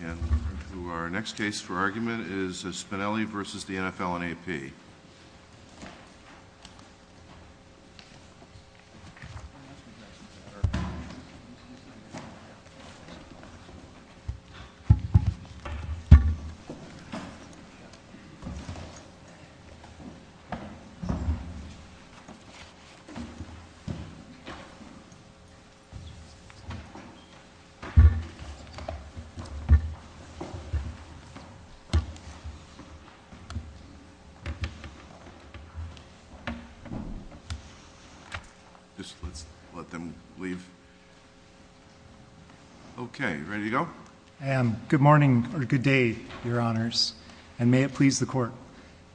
And our next case for argument is Spinelli v. the NFL and AP. Good morning, or good day, your honors, and may it please the court.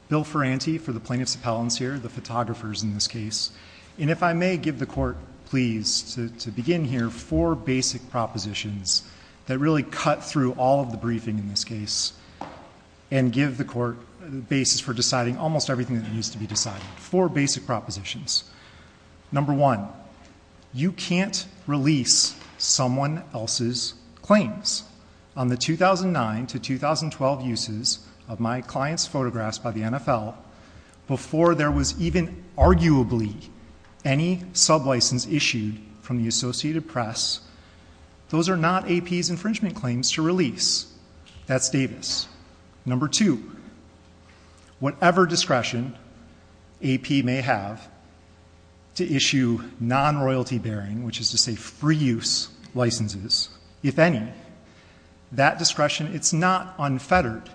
Bill Ferranti for the plaintiffs' appellants here, the photographers in this case. And if I may give the court, please, to begin here, four basic propositions that really cut through all of the briefing in this case and give the court the basis for deciding almost everything that needs to be decided. Four basic propositions. Number one, you can't release someone else's claims on the 2009 to 2012 uses of my client's photographs by the NFL before there was even arguably any sublicense issued from the Associated Press. Those are not AP's infringement claims to release. That's Davis. Number two, whatever discretion AP may have to issue non-royalty bearing, which is to say free use licenses, if any, that discretion, it's not unfettered.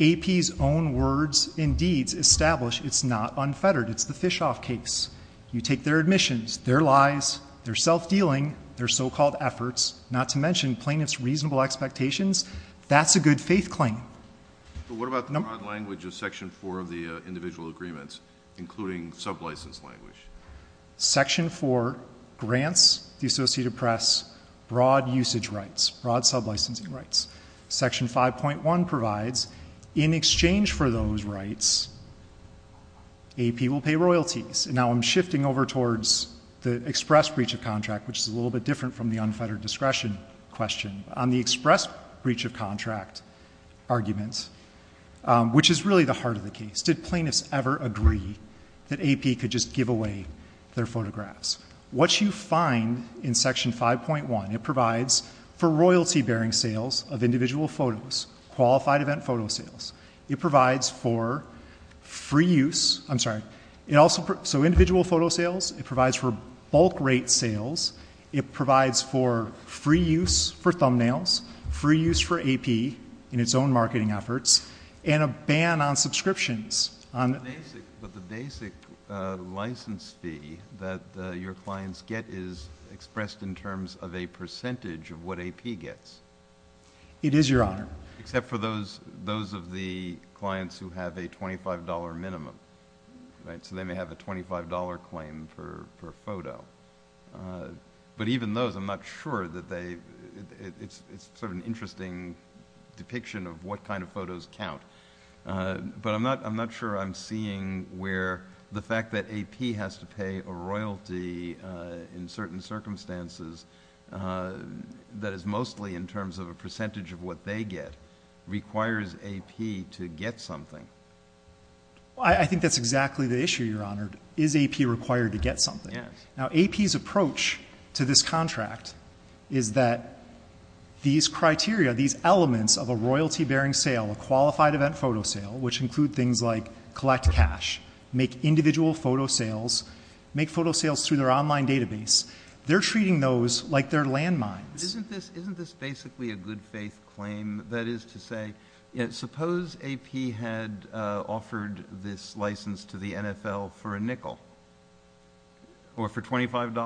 AP's own words and deeds establish it's not unfettered. It's the Fischhoff case. You take their admissions, their lies, their self-dealing, their so-called efforts, not to mention plaintiff's reasonable expectations, that's a good faith claim. But what about the broad language of section four of the individual agreements, including sublicense language? Section four grants the Associated Press broad usage rights, broad sublicensing rights. Section 5.1 provides in exchange for those rights, AP will pay royalties. And now I'm shifting over towards the express breach of contract, which is a little bit different from the unfettered discretion question. On the express breach of contract argument, which is really the heart of the case, did plaintiffs ever agree that AP could just give away their photographs? What you find in section 5.1, it provides for royalty bearing sales of individual photos, qualified event photo sales. It provides for free use, I'm sorry, so individual photo sales. It provides for bulk rate sales. It provides for free use for thumbnails, free use for AP in its own marketing efforts, and a ban on subscriptions. But the basic license fee that your clients get is expressed in terms of a percentage of what AP gets. It is, Your Honor. Except for those of the clients who have a $25 minimum, right? So they may have a $25 claim per photo. But even those, I'm not sure that they, it's sort of an interesting depiction of what kind of photos count. But I'm not sure I'm seeing where the fact that AP has to pay a royalty in certain circumstances, that is mostly in terms of a percentage of what they get, requires AP to get something. I think that's exactly the issue, Your Honor. Is AP required to get something? Yes. Now AP's approach to this contract is that these criteria, these elements of a royalty bearing sale, a qualified event photo sale, which include things like collect cash, make individual photo sales, make photo sales through their online database, they're treating those like they're landmines. Isn't this basically a good faith claim? That is to say, suppose AP had offered this license to the NFL for a nickel or for $25?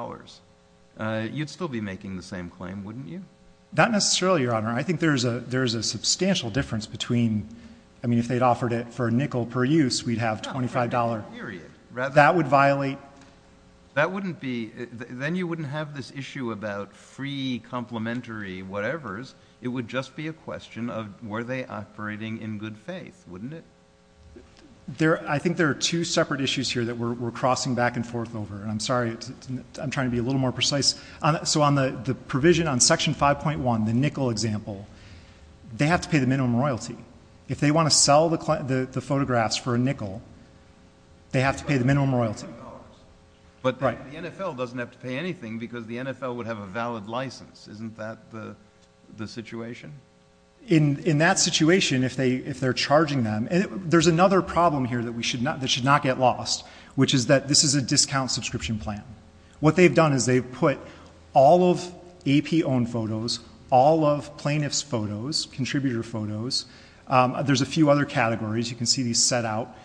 You'd still be making the same claim, wouldn't you? Not necessarily, Your Honor. I think there's a substantial difference between, I mean, if they'd offered it for a nickel per use, we'd have $25. That would violate. That wouldn't be, then you wouldn't have this issue about free complimentary whatevers. It would just be a question of were they operating in good faith, wouldn't it? I think there are two separate issues here that we're crossing back and forth over. I'm sorry, I'm trying to be a little more precise. So on the provision on Section 5.1, the nickel example, they have to pay the minimum royalty. If they want to sell the photographs for a nickel, they have to pay the minimum royalty. But the NFL doesn't have to pay anything because the NFL would have a valid license. Isn't that the situation? In that situation, if they're charging them, there's another problem here that should not get lost, which is that this is a discount subscription plan. What they've done is they've put all of AP-owned photos, all of plaintiff's photos, contributor photos, there's a few other categories. You can see these set out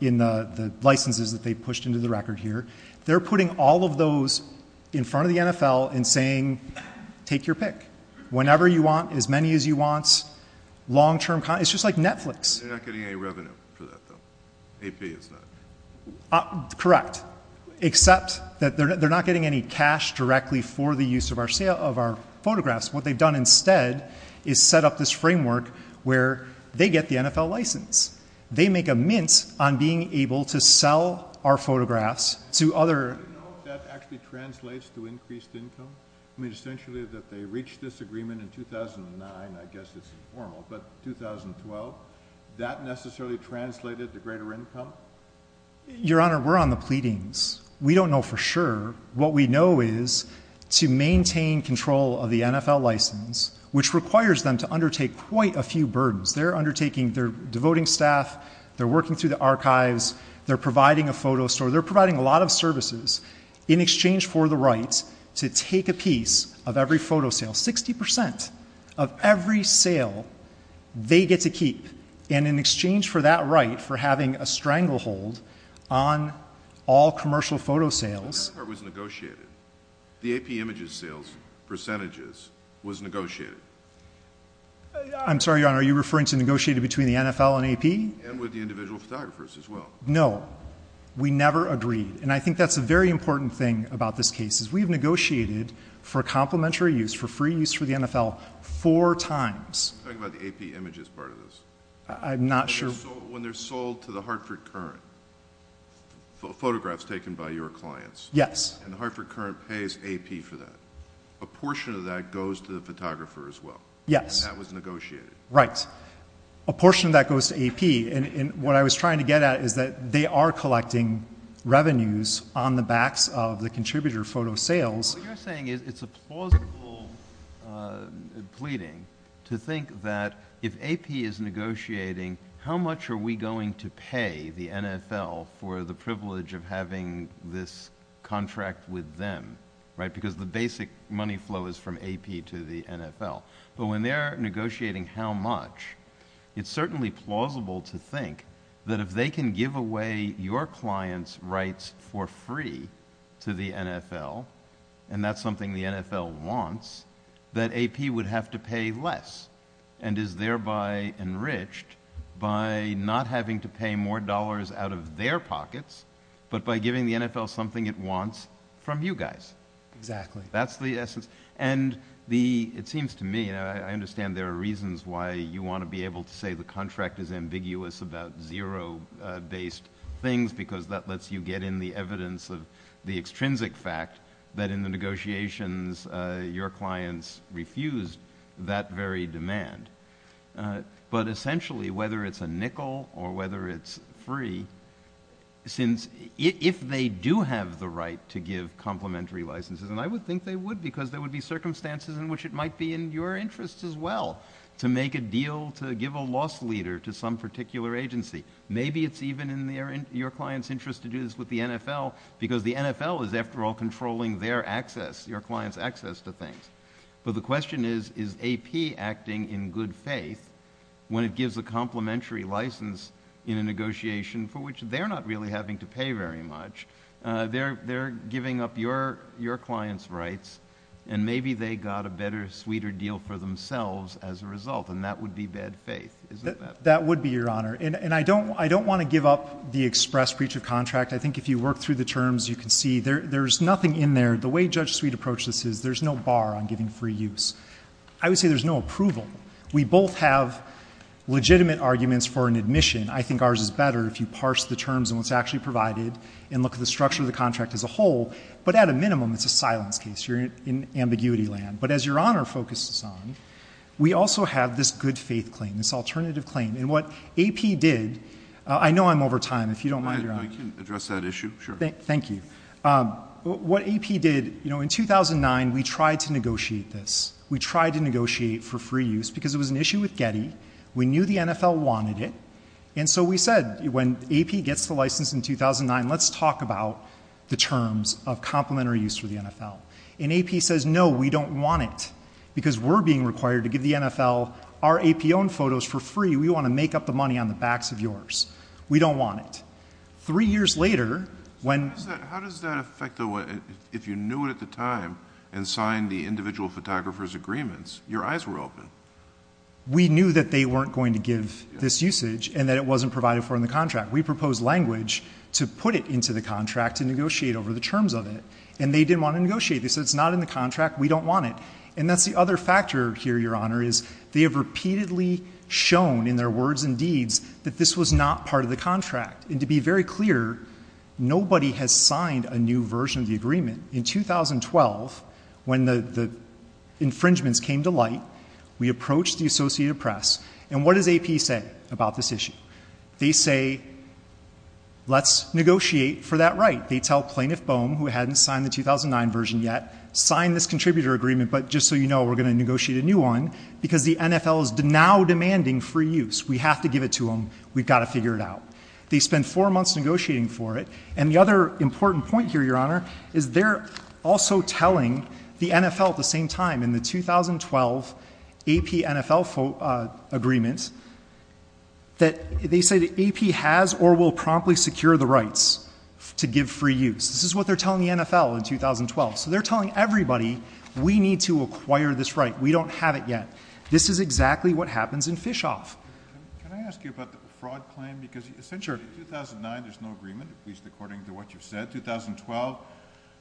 in the licenses that they've pushed into the record here. They're putting all of those in front of the NFL and saying, take your pick. Whenever you want, as many as you want, long-term, it's just like Netflix. They're not getting any revenue for that, though, AP is not. Correct. Except that they're not getting any cash directly for the use of our photographs. What they've done instead is set up this framework where they get the NFL license. They make a mince on being able to sell our photographs to other... Do you know if that actually translates to increased income? I mean, essentially that they reached this agreement in 2009, I guess it's informal, but 2012, that necessarily translated to greater income? Your Honor, we're on the pleadings. We don't know for sure. What we know is to maintain control of the NFL license, which requires them to undertake quite a few burdens. They're undertaking, they're devoting staff, they're working through the archives, they're providing a photo store. They're providing a lot of services in exchange for the rights to take a piece of every photo sale. 60% of every sale they get to keep, and in exchange for that right, for having a stranglehold on all commercial photo sales... When Hartford was negotiated, the AP images sales percentages was negotiated. I'm sorry, Your Honor, are you referring to negotiated between the NFL and AP? And with the individual photographers as well. No. We never agreed. I think that's a very important thing about this case, is we've negotiated for complimentary use, for free use for the NFL, four times. Talk about the AP images part of this. I'm not sure... When they're sold to the Hartford Current, photographs taken by your clients... Yes.... and the Hartford Current pays AP for that, a portion of that goes to the photographer as well. Yes. And that was negotiated. Right. A portion of that goes to AP. What I was trying to get at is that they are collecting revenues on the backs of the contributor photo sales. What you're saying is it's a plausible pleading to think that if AP is negotiating, how much are we going to pay the NFL for the privilege of having this contract with them, right? Because the basic money flow is from AP to the NFL. But when they're negotiating how much, it's certainly plausible to think that if they can give away your client's rights for free to the NFL, and that's something the NFL wants, that AP would have to pay less, and is thereby enriched by not having to pay more dollars out of their pockets, but by giving the NFL something it wants from you guys. Exactly. That's the essence. And it seems to me, and I understand there are reasons why you want to be able to say the contract is ambiguous about zero-based things, because that lets you get in the evidence of the extrinsic fact that in the negotiations, your clients refused that very demand. But essentially, whether it's a nickel or whether it's free, since if they do have the right to give complementary licenses, and I would think they would, because there would be circumstances in which it might be in your interest as well to make a deal to give a cost leader to some particular agency. Maybe it's even in your client's interest to do this with the NFL, because the NFL is after all controlling their access, your client's access to things. But the question is, is AP acting in good faith when it gives a complementary license in a negotiation for which they're not really having to pay very much? They're giving up your client's rights, and maybe they got a better, sweeter deal for that. That would be, Your Honor. And I don't want to give up the express breach of contract. I think if you work through the terms, you can see there's nothing in there. The way Judge Sweet approached this is there's no bar on giving free use. I would say there's no approval. We both have legitimate arguments for an admission. I think ours is better if you parse the terms and what's actually provided and look at the structure of the contract as a whole. But at a minimum, it's a silence case. You're in ambiguity land. But as Your Honor focuses on, we also have this good faith claim, this alternative claim. And what AP did, I know I'm over time. If you don't mind, Your Honor. I can address that issue, sure. Thank you. What AP did, in 2009, we tried to negotiate this. We tried to negotiate for free use, because it was an issue with Getty. We knew the NFL wanted it. And so we said, when AP gets the license in 2009, let's talk about the terms of complementary use for the NFL. And AP says, no, we don't want it. Because we're being required to give the NFL, our AP-owned photos for free. We want to make up the money on the backs of yours. We don't want it. Three years later, when... How does that affect the way... If you knew it at the time and signed the individual photographer's agreements, your eyes were open. We knew that they weren't going to give this usage, and that it wasn't provided for in the contract. We proposed language to put it into the contract to negotiate over the terms of it. And they didn't want to negotiate this. It's not in the contract. We don't want it. And that's the other factor here, Your Honor, is they have repeatedly shown, in their words and deeds, that this was not part of the contract. And to be very clear, nobody has signed a new version of the agreement. In 2012, when the infringements came to light, we approached the Associated Press. And what does AP say about this issue? They say, let's negotiate for that right. They tell Plaintiff Boehm, who hadn't signed the 2009 version yet, sign this contributor agreement, but just so you know, we're going to negotiate a new one, because the NFL is now demanding free use. We have to give it to them. We've got to figure it out. They spend four months negotiating for it. And the other important point here, Your Honor, is they're also telling the NFL at the same time, in the 2012 AP-NFL agreement, that they say that AP has or will promptly secure the free use. This is what they're telling the NFL in 2012. So they're telling everybody, we need to acquire this right. We don't have it yet. This is exactly what happens in Fischhoff. Can I ask you about the fraud claim? Sure. Because essentially in 2009, there's no agreement, at least according to what you've said. In 2012,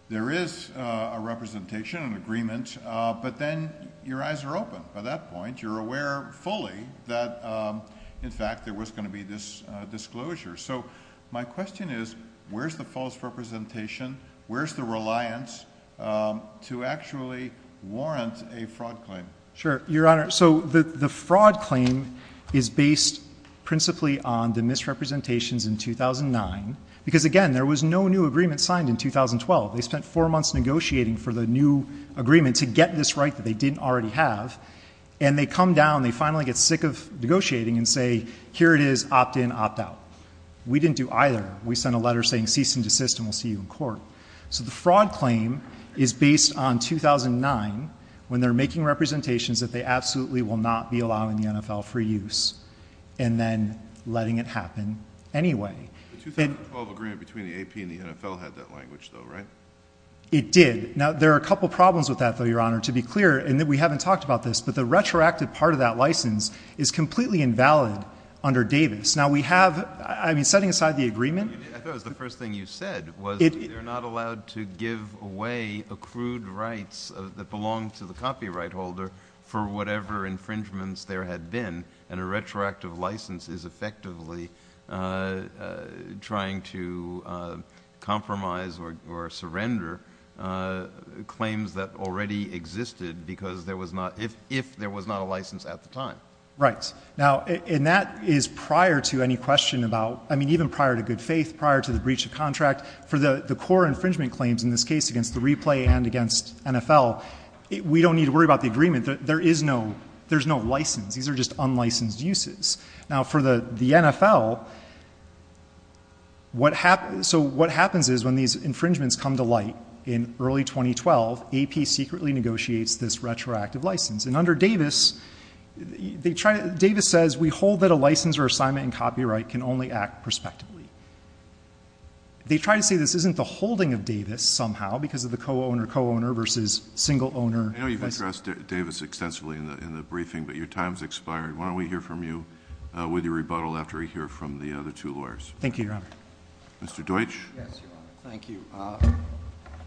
there is a representation, an agreement, but then your eyes are open. By that point, you're aware fully that, in fact, there was going to be this disclosure. So my question is, where's the false representation? Where's the reliance to actually warrant a fraud claim? Sure. Your Honor, so the fraud claim is based principally on the misrepresentations in 2009. Because again, there was no new agreement signed in 2012. They spent four months negotiating for the new agreement to get this right that they didn't already have. And they come down, they finally get sick of negotiating, and say, here it is, opt in, opt out. We didn't do either. We sent a letter saying cease and desist, and we'll see you in court. So the fraud claim is based on 2009, when they're making representations that they absolutely will not be allowing the NFL for use, and then letting it happen anyway. The 2012 agreement between the AP and the NFL had that language, though, right? It did. Now, there are a couple problems with that, though, Your Honor. To be clear, and we haven't talked about this, but the retroactive part of that license is completely invalid under Davis. Now, we have, I mean, setting aside the agreement. I thought it was the first thing you said, was they're not allowed to give away accrued rights that belong to the copyright holder for whatever infringements there had been. And a retroactive license is effectively trying to compromise or surrender claims that already existed because there was not, if there was not a license at the time. Right. Now, and that is prior to any question about, I mean, even prior to good faith, prior to the breach of contract, for the core infringement claims in this case against the replay and against NFL, we don't need to worry about the agreement. There is no, there's no license. These are just unlicensed uses. Now, for the NFL, what happens, so what happens is when these infringements come to light in early 2012, AP secretly negotiates this retroactive license. And under Davis, they try to, Davis says, we hold that a license or assignment in copyright can only act prospectively. They try to say this isn't the holding of Davis somehow because of the co-owner, co-owner versus single owner. I know you've addressed Davis extensively in the, in the briefing, but your time's expired. Why don't we hear from you with your rebuttal after we hear from the other two lawyers? Thank you, Your Honor. Mr. Deutsch. Yes, Your Honor. Thank you.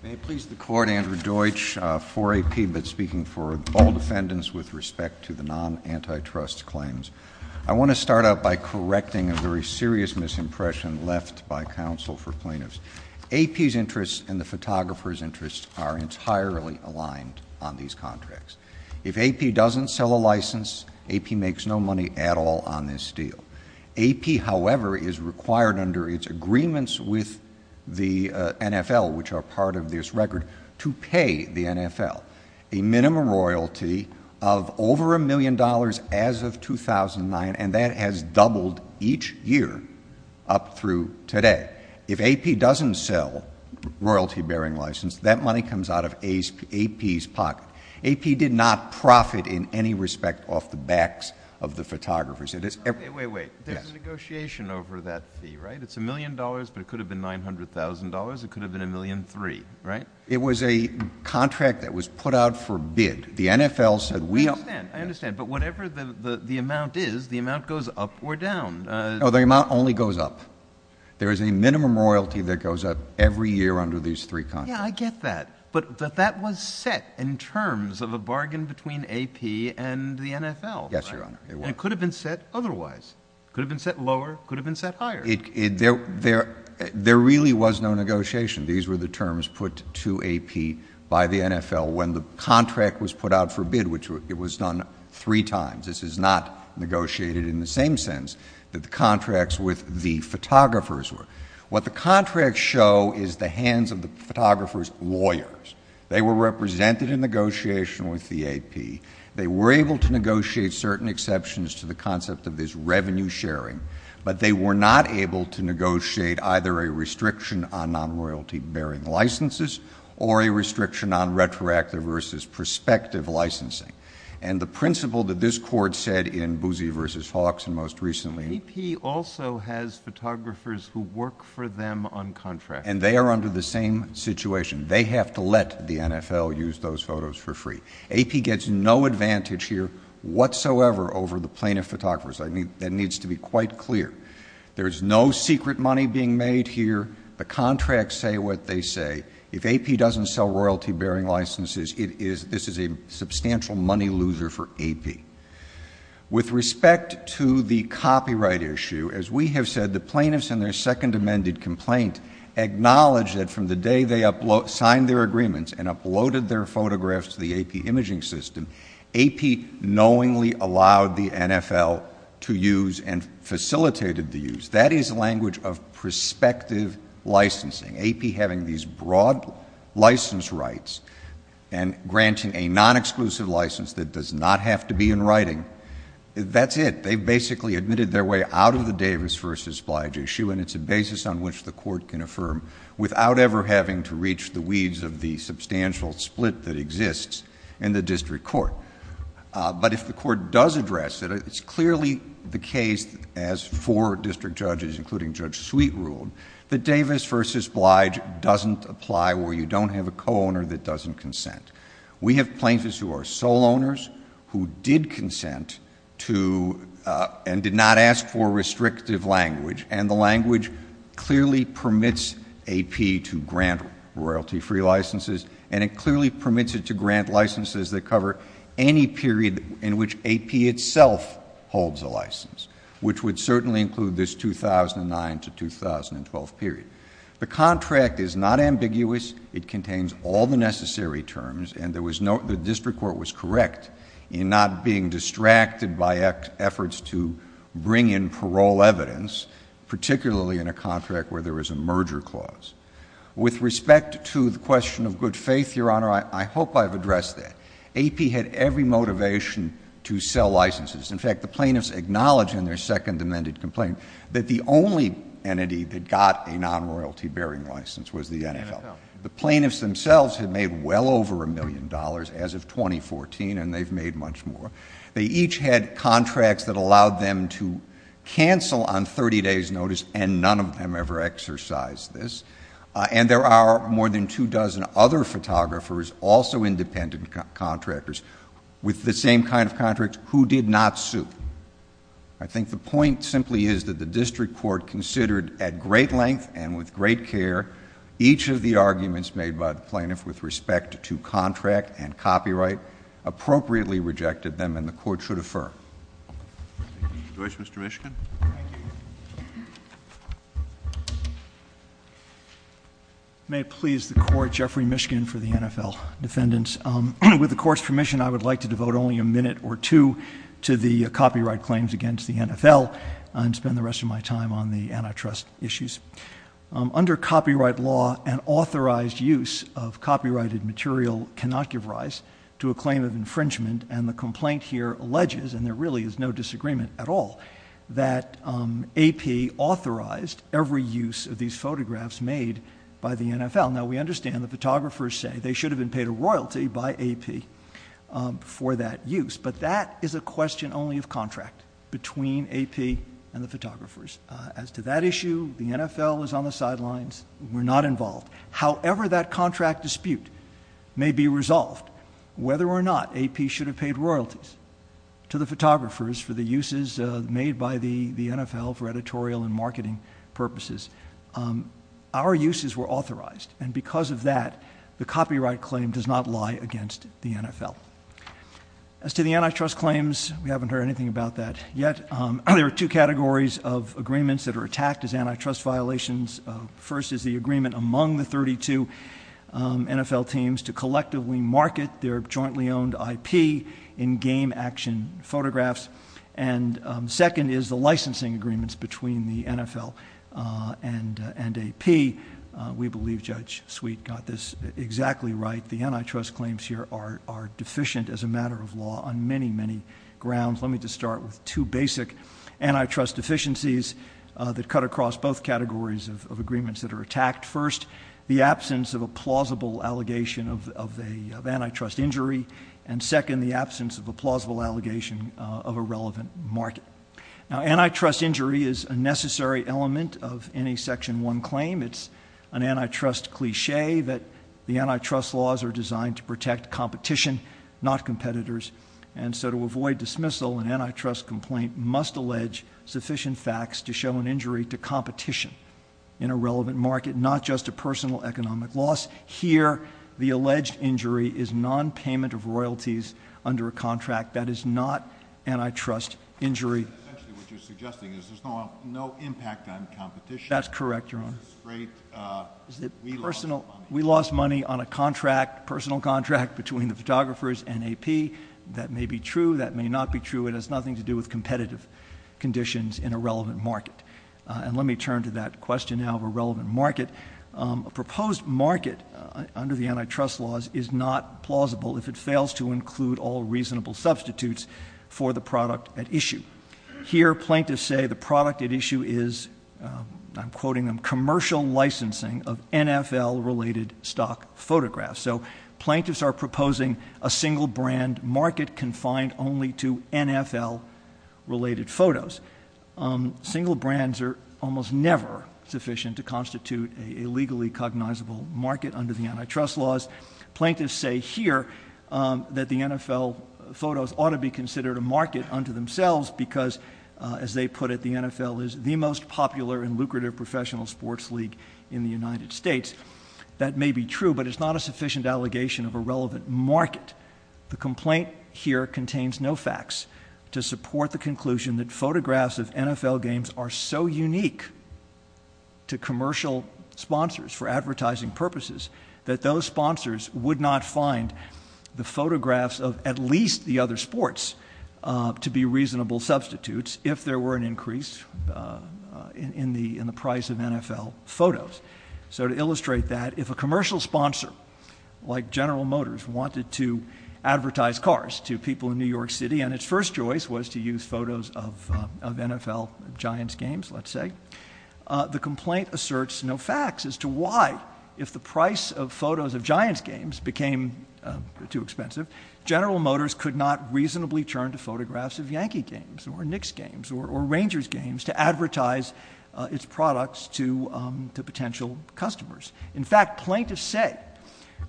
May it please the court, Andrew Deutsch for AP, but speaking for all defendants with respect to the non-antitrust claims. I want to start out by correcting a very serious misimpression left by counsel for plaintiffs. AP's interests and the photographer's interests are entirely aligned on these contracts. If AP doesn't sell a license, AP makes no money at all on this deal. AP, however, is required under its agreements with the NFL, which are part of this record, to pay the NFL a minimum royalty of over a million dollars as of 2009, and that has doubled each year up through today. If AP doesn't sell royalty bearing license, that money comes out of AP's pocket. AP did not profit in any respect off the backs of the photographers. Wait, wait, wait. There's a negotiation over that fee, right? It's a million dollars, but it could have been $900,000. It could have been a million three, right? It was a contract that was put out for bid. The NFL said we— I understand. I understand. But whatever the amount is, the amount goes up or down. No, the amount only goes up. There is a minimum royalty that goes up every year under these three contracts. Yeah, I get that. But that was set in terms of a bargain between AP and the NFL, right? Yes, Your Honor. And it could have been set otherwise. It could have been set lower. It could have been set higher. There really was no negotiation. These were the terms put to AP by the NFL when the contract was put out for bid, which it was done three times. This is not negotiated in the same sense that the contracts with the photographers were. What the contracts show is the hands of the photographers' lawyers. They were represented in negotiation with the AP. They were able to negotiate certain exceptions to the concept of this revenue sharing, but they were not able to negotiate either a restriction on non-royalty-bearing licenses or a restriction on retroactive versus prospective licensing. And the principle that this Court said in Boosie v. Hawks and most recently— AP also has photographers who work for them on contracts. And they are under the same situation. They have to let the NFL use those photos for free. AP gets no advantage here whatsoever over the plaintiff photographers. That needs to be quite clear. There is no secret money being made here. The contracts say what they say. If AP doesn't sell royalty-bearing licenses, this is a substantial money loser for AP. With respect to the copyright issue, as we have said, the plaintiffs in their second amended complaint acknowledged that from the day they signed their agreements and uploaded their photographs to the AP imaging system, AP knowingly allowed the NFL to use and facilitated the use. That is language of prospective licensing. AP having these broad license rights and granting a non-exclusive license that does not have to be in writing, that's it. They basically admitted their way out of the Davis v. Blige issue, and it's a basis on the substantial split that exists in the district court. But if the court does address it, it's clearly the case, as four district judges, including Judge Sweet, ruled, that Davis v. Blige doesn't apply where you don't have a co-owner that doesn't consent. We have plaintiffs who are sole owners, who did consent to and did not ask for restrictive language, and the language clearly permits AP to grant royalty-free licenses, and it clearly permits it to grant licenses that cover any period in which AP itself holds a license, which would certainly include this 2009 to 2012 period. The contract is not ambiguous. It contains all the necessary terms, and the district court was correct in not being distracted by efforts to bring in parole evidence, particularly in a contract where there is a merger clause. With respect to the question of good faith, Your Honor, I hope I've addressed that. AP had every motivation to sell licenses. In fact, the plaintiffs acknowledge in their second amended complaint that the only entity that got a non-royalty bearing license was the NFL. The plaintiffs themselves had made well over a million dollars as of 2014, and they've made much more. They each had contracts that allowed them to cancel on 30 days' notice, and none of them ever exercised this. And there are more than two dozen other photographers, also independent contractors, with the same kind of contracts, who did not sue. I think the point simply is that the district court considered at great length and with great care each of the arguments made by the plaintiff with respect to contract and copyright, appropriately rejected them, and the Court should affirm. Do you wish, Mr. Mishkin? Thank you. May it please the Court, Jeffrey Mishkin for the NFL Defendants. With the Court's permission, I would like to devote only a minute or two to the copyright claims against the NFL and spend the rest of my time on the antitrust issues. Under copyright law, an authorized use of copyrighted material cannot give rise to a claim of infringement, and the complaint here alleges, and there really is no disagreement at all, that AP authorized every use of these photographs made by the NFL. Now, we understand the photographers say they should have been paid a royalty by AP for that use, but that is a question only of contract between AP and the photographers. As to that issue, the NFL is on the sidelines. We're not involved. However, that contract dispute may be resolved, whether or not AP should have paid royalties to the photographers for the uses made by the NFL for editorial and marketing purposes. Our uses were authorized, and because of that, the copyright claim does not lie against the NFL. As to the antitrust claims, we haven't heard anything about that yet. There are two categories of agreements that are attacked as antitrust violations. First is the agreement among the 32 NFL teams to collectively market their jointly owned IP in game action photographs, and second is the licensing agreements between the NFL and AP. We believe Judge Sweet got this exactly right. The antitrust claims here are deficient as a matter of law on many, many grounds. Let me just start with two basic antitrust deficiencies that cut across both categories of agreements that are attacked. First, the absence of a plausible allegation of antitrust injury, and second, the absence of a plausible allegation of a relevant market. Now, antitrust injury is a necessary element of any Section 1 claim. It's an antitrust cliche that the antitrust laws are designed to protect competition, not competitors. And so to avoid dismissal, an antitrust complaint must allege sufficient facts to show an injury to competition in a relevant market, not just a personal economic loss. Here, the alleged injury is nonpayment of royalties under a contract. That is not antitrust injury. Essentially, what you're suggesting is there's no impact on competition. That's correct, Your Honor. We lost money on a personal contract between the photographers and AP. That may be true, that may not be true. It has nothing to do with competitive conditions in a relevant market. And let me turn to that question now of a relevant market. A proposed market under the antitrust laws is not plausible if it fails to include all reasonable substitutes for the product at issue. Here, plaintiffs say the product at issue is, I'm quoting them, commercial licensing of NFL related stock photographs. So, plaintiffs are proposing a single brand market confined only to NFL related photos. Single brands are almost never sufficient to constitute a legally cognizable market under the antitrust laws. Plaintiffs say here that the NFL photos ought to be considered a market unto themselves, because as they put it, the NFL is the most popular and lucrative professional sports league in the United States. That may be true, but it's not a sufficient allegation of a relevant market. The complaint here contains no facts to support the conclusion that photographs of NFL games are so unique to commercial sponsors for advertising purposes, that those sponsors would not find the photographs of at least the other sports to be reasonable substitutes if there were an increase in the price of NFL photos. So to illustrate that, if a commercial sponsor, like General Motors, wanted to advertise cars to people in New York City, and its first choice was to use photos of NFL Giants games, let's say. The complaint asserts no facts as to why, if the price of photos of Giants games became too expensive, General Motors could not reasonably turn to photographs of Yankee games, or Knicks games, or Rangers games to advertise its products to potential customers. In fact, plaintiffs say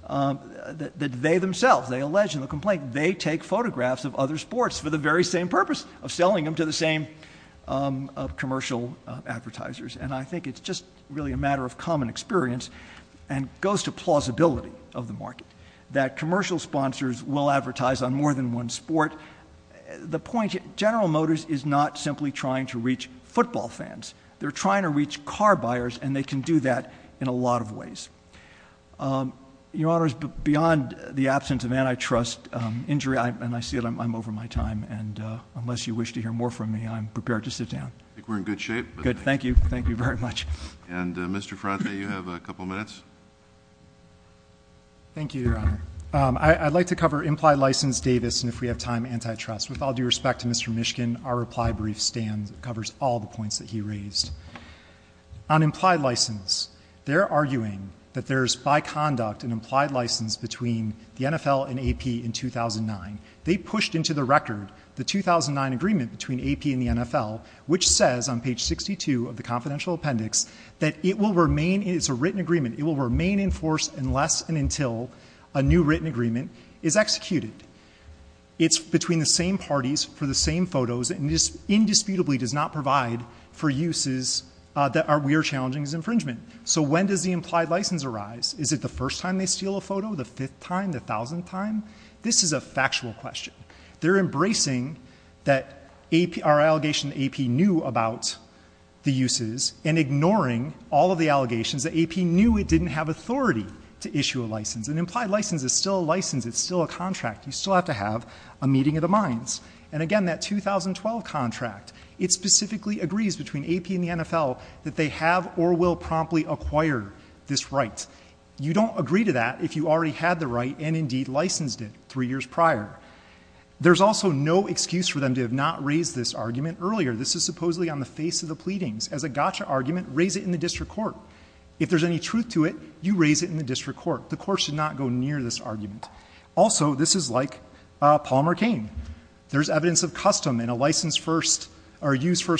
that they themselves, they allege in the complaint, that they take photographs of other sports for the very same purpose of selling them to the same commercial advertisers. And I think it's just really a matter of common experience, and goes to plausibility of the market. That commercial sponsors will advertise on more than one sport. The point, General Motors is not simply trying to reach football fans. They're trying to reach car buyers, and they can do that in a lot of ways. Your Honor, beyond the absence of antitrust injury, and I see that I'm over my time. And unless you wish to hear more from me, I'm prepared to sit down. I think we're in good shape. Good, thank you. Thank you very much. And Mr. Fronte, you have a couple minutes. Thank you, Your Honor. I'd like to cover Implied License Davis, and if we have time, antitrust. With all due respect to Mr. Mishkin, our reply brief covers all the points that he raised. On implied license, they're arguing that there's by conduct an implied license between the NFL and AP in 2009. They pushed into the record the 2009 agreement between AP and the NFL, which says on page 62 of the confidential appendix that it will remain, it's a written agreement, it will remain in force unless and until a new written agreement is executed. It's between the same parties for the same photos, and this indisputably does not provide for uses that we are challenging as infringement. So when does the implied license arise? Is it the first time they steal a photo, the fifth time, the thousandth time? This is a factual question. They're embracing that our allegation AP knew about the uses and ignoring all of the allegations that AP knew it didn't have authority to issue a license. An implied license is still a license, it's still a contract, you still have to have a meeting of the minds. And again, that 2012 contract, it specifically agrees between AP and the NFL that they have or will promptly acquire this right. You don't agree to that if you already had the right and indeed licensed it three years prior. There's also no excuse for them to have not raised this argument earlier. This is supposedly on the face of the pleadings. As a gotcha argument, raise it in the district court. If there's any truth to it, you raise it in the district court. The court should not go near this argument. Also, this is like Paul McCain. There's evidence of custom in a use first,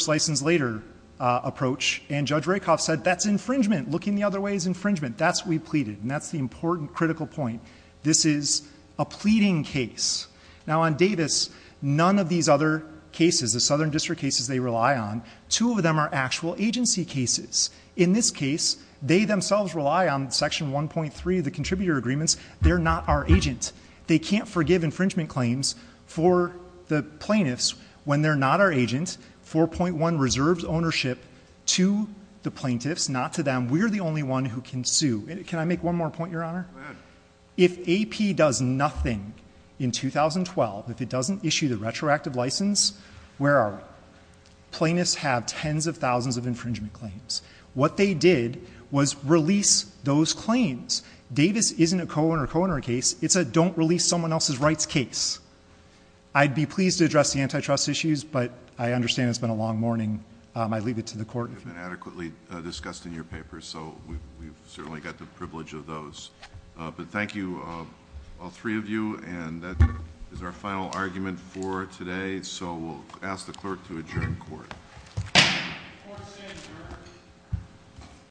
license later approach. And Judge Rakoff said that's infringement, looking the other way is infringement. That's what we pleaded, and that's the important critical point. This is a pleading case. Now on Davis, none of these other cases, the southern district cases they rely on, two of them are actual agency cases. In this case, they themselves rely on section 1.3 of the contributor agreements. They're not our agent. They can't forgive infringement claims for the plaintiffs when they're not our agent. 4.1 reserves ownership to the plaintiffs, not to them. We're the only one who can sue. Can I make one more point, your honor? If AP does nothing in 2012, if it doesn't issue the retroactive license, where are we? Plaintiffs have tens of thousands of infringement claims. What they did was release those claims. Davis isn't a co-owner, co-owner case. It's a don't release someone else's rights case. I'd be pleased to address the antitrust issues, but I understand it's been a long morning. I leave it to the court. You've been adequately discussed in your papers, so we've certainly got the privilege of those. But thank you, all three of you, and that is our final argument for today. So we'll ask the clerk to adjourn court. Court is adjourned.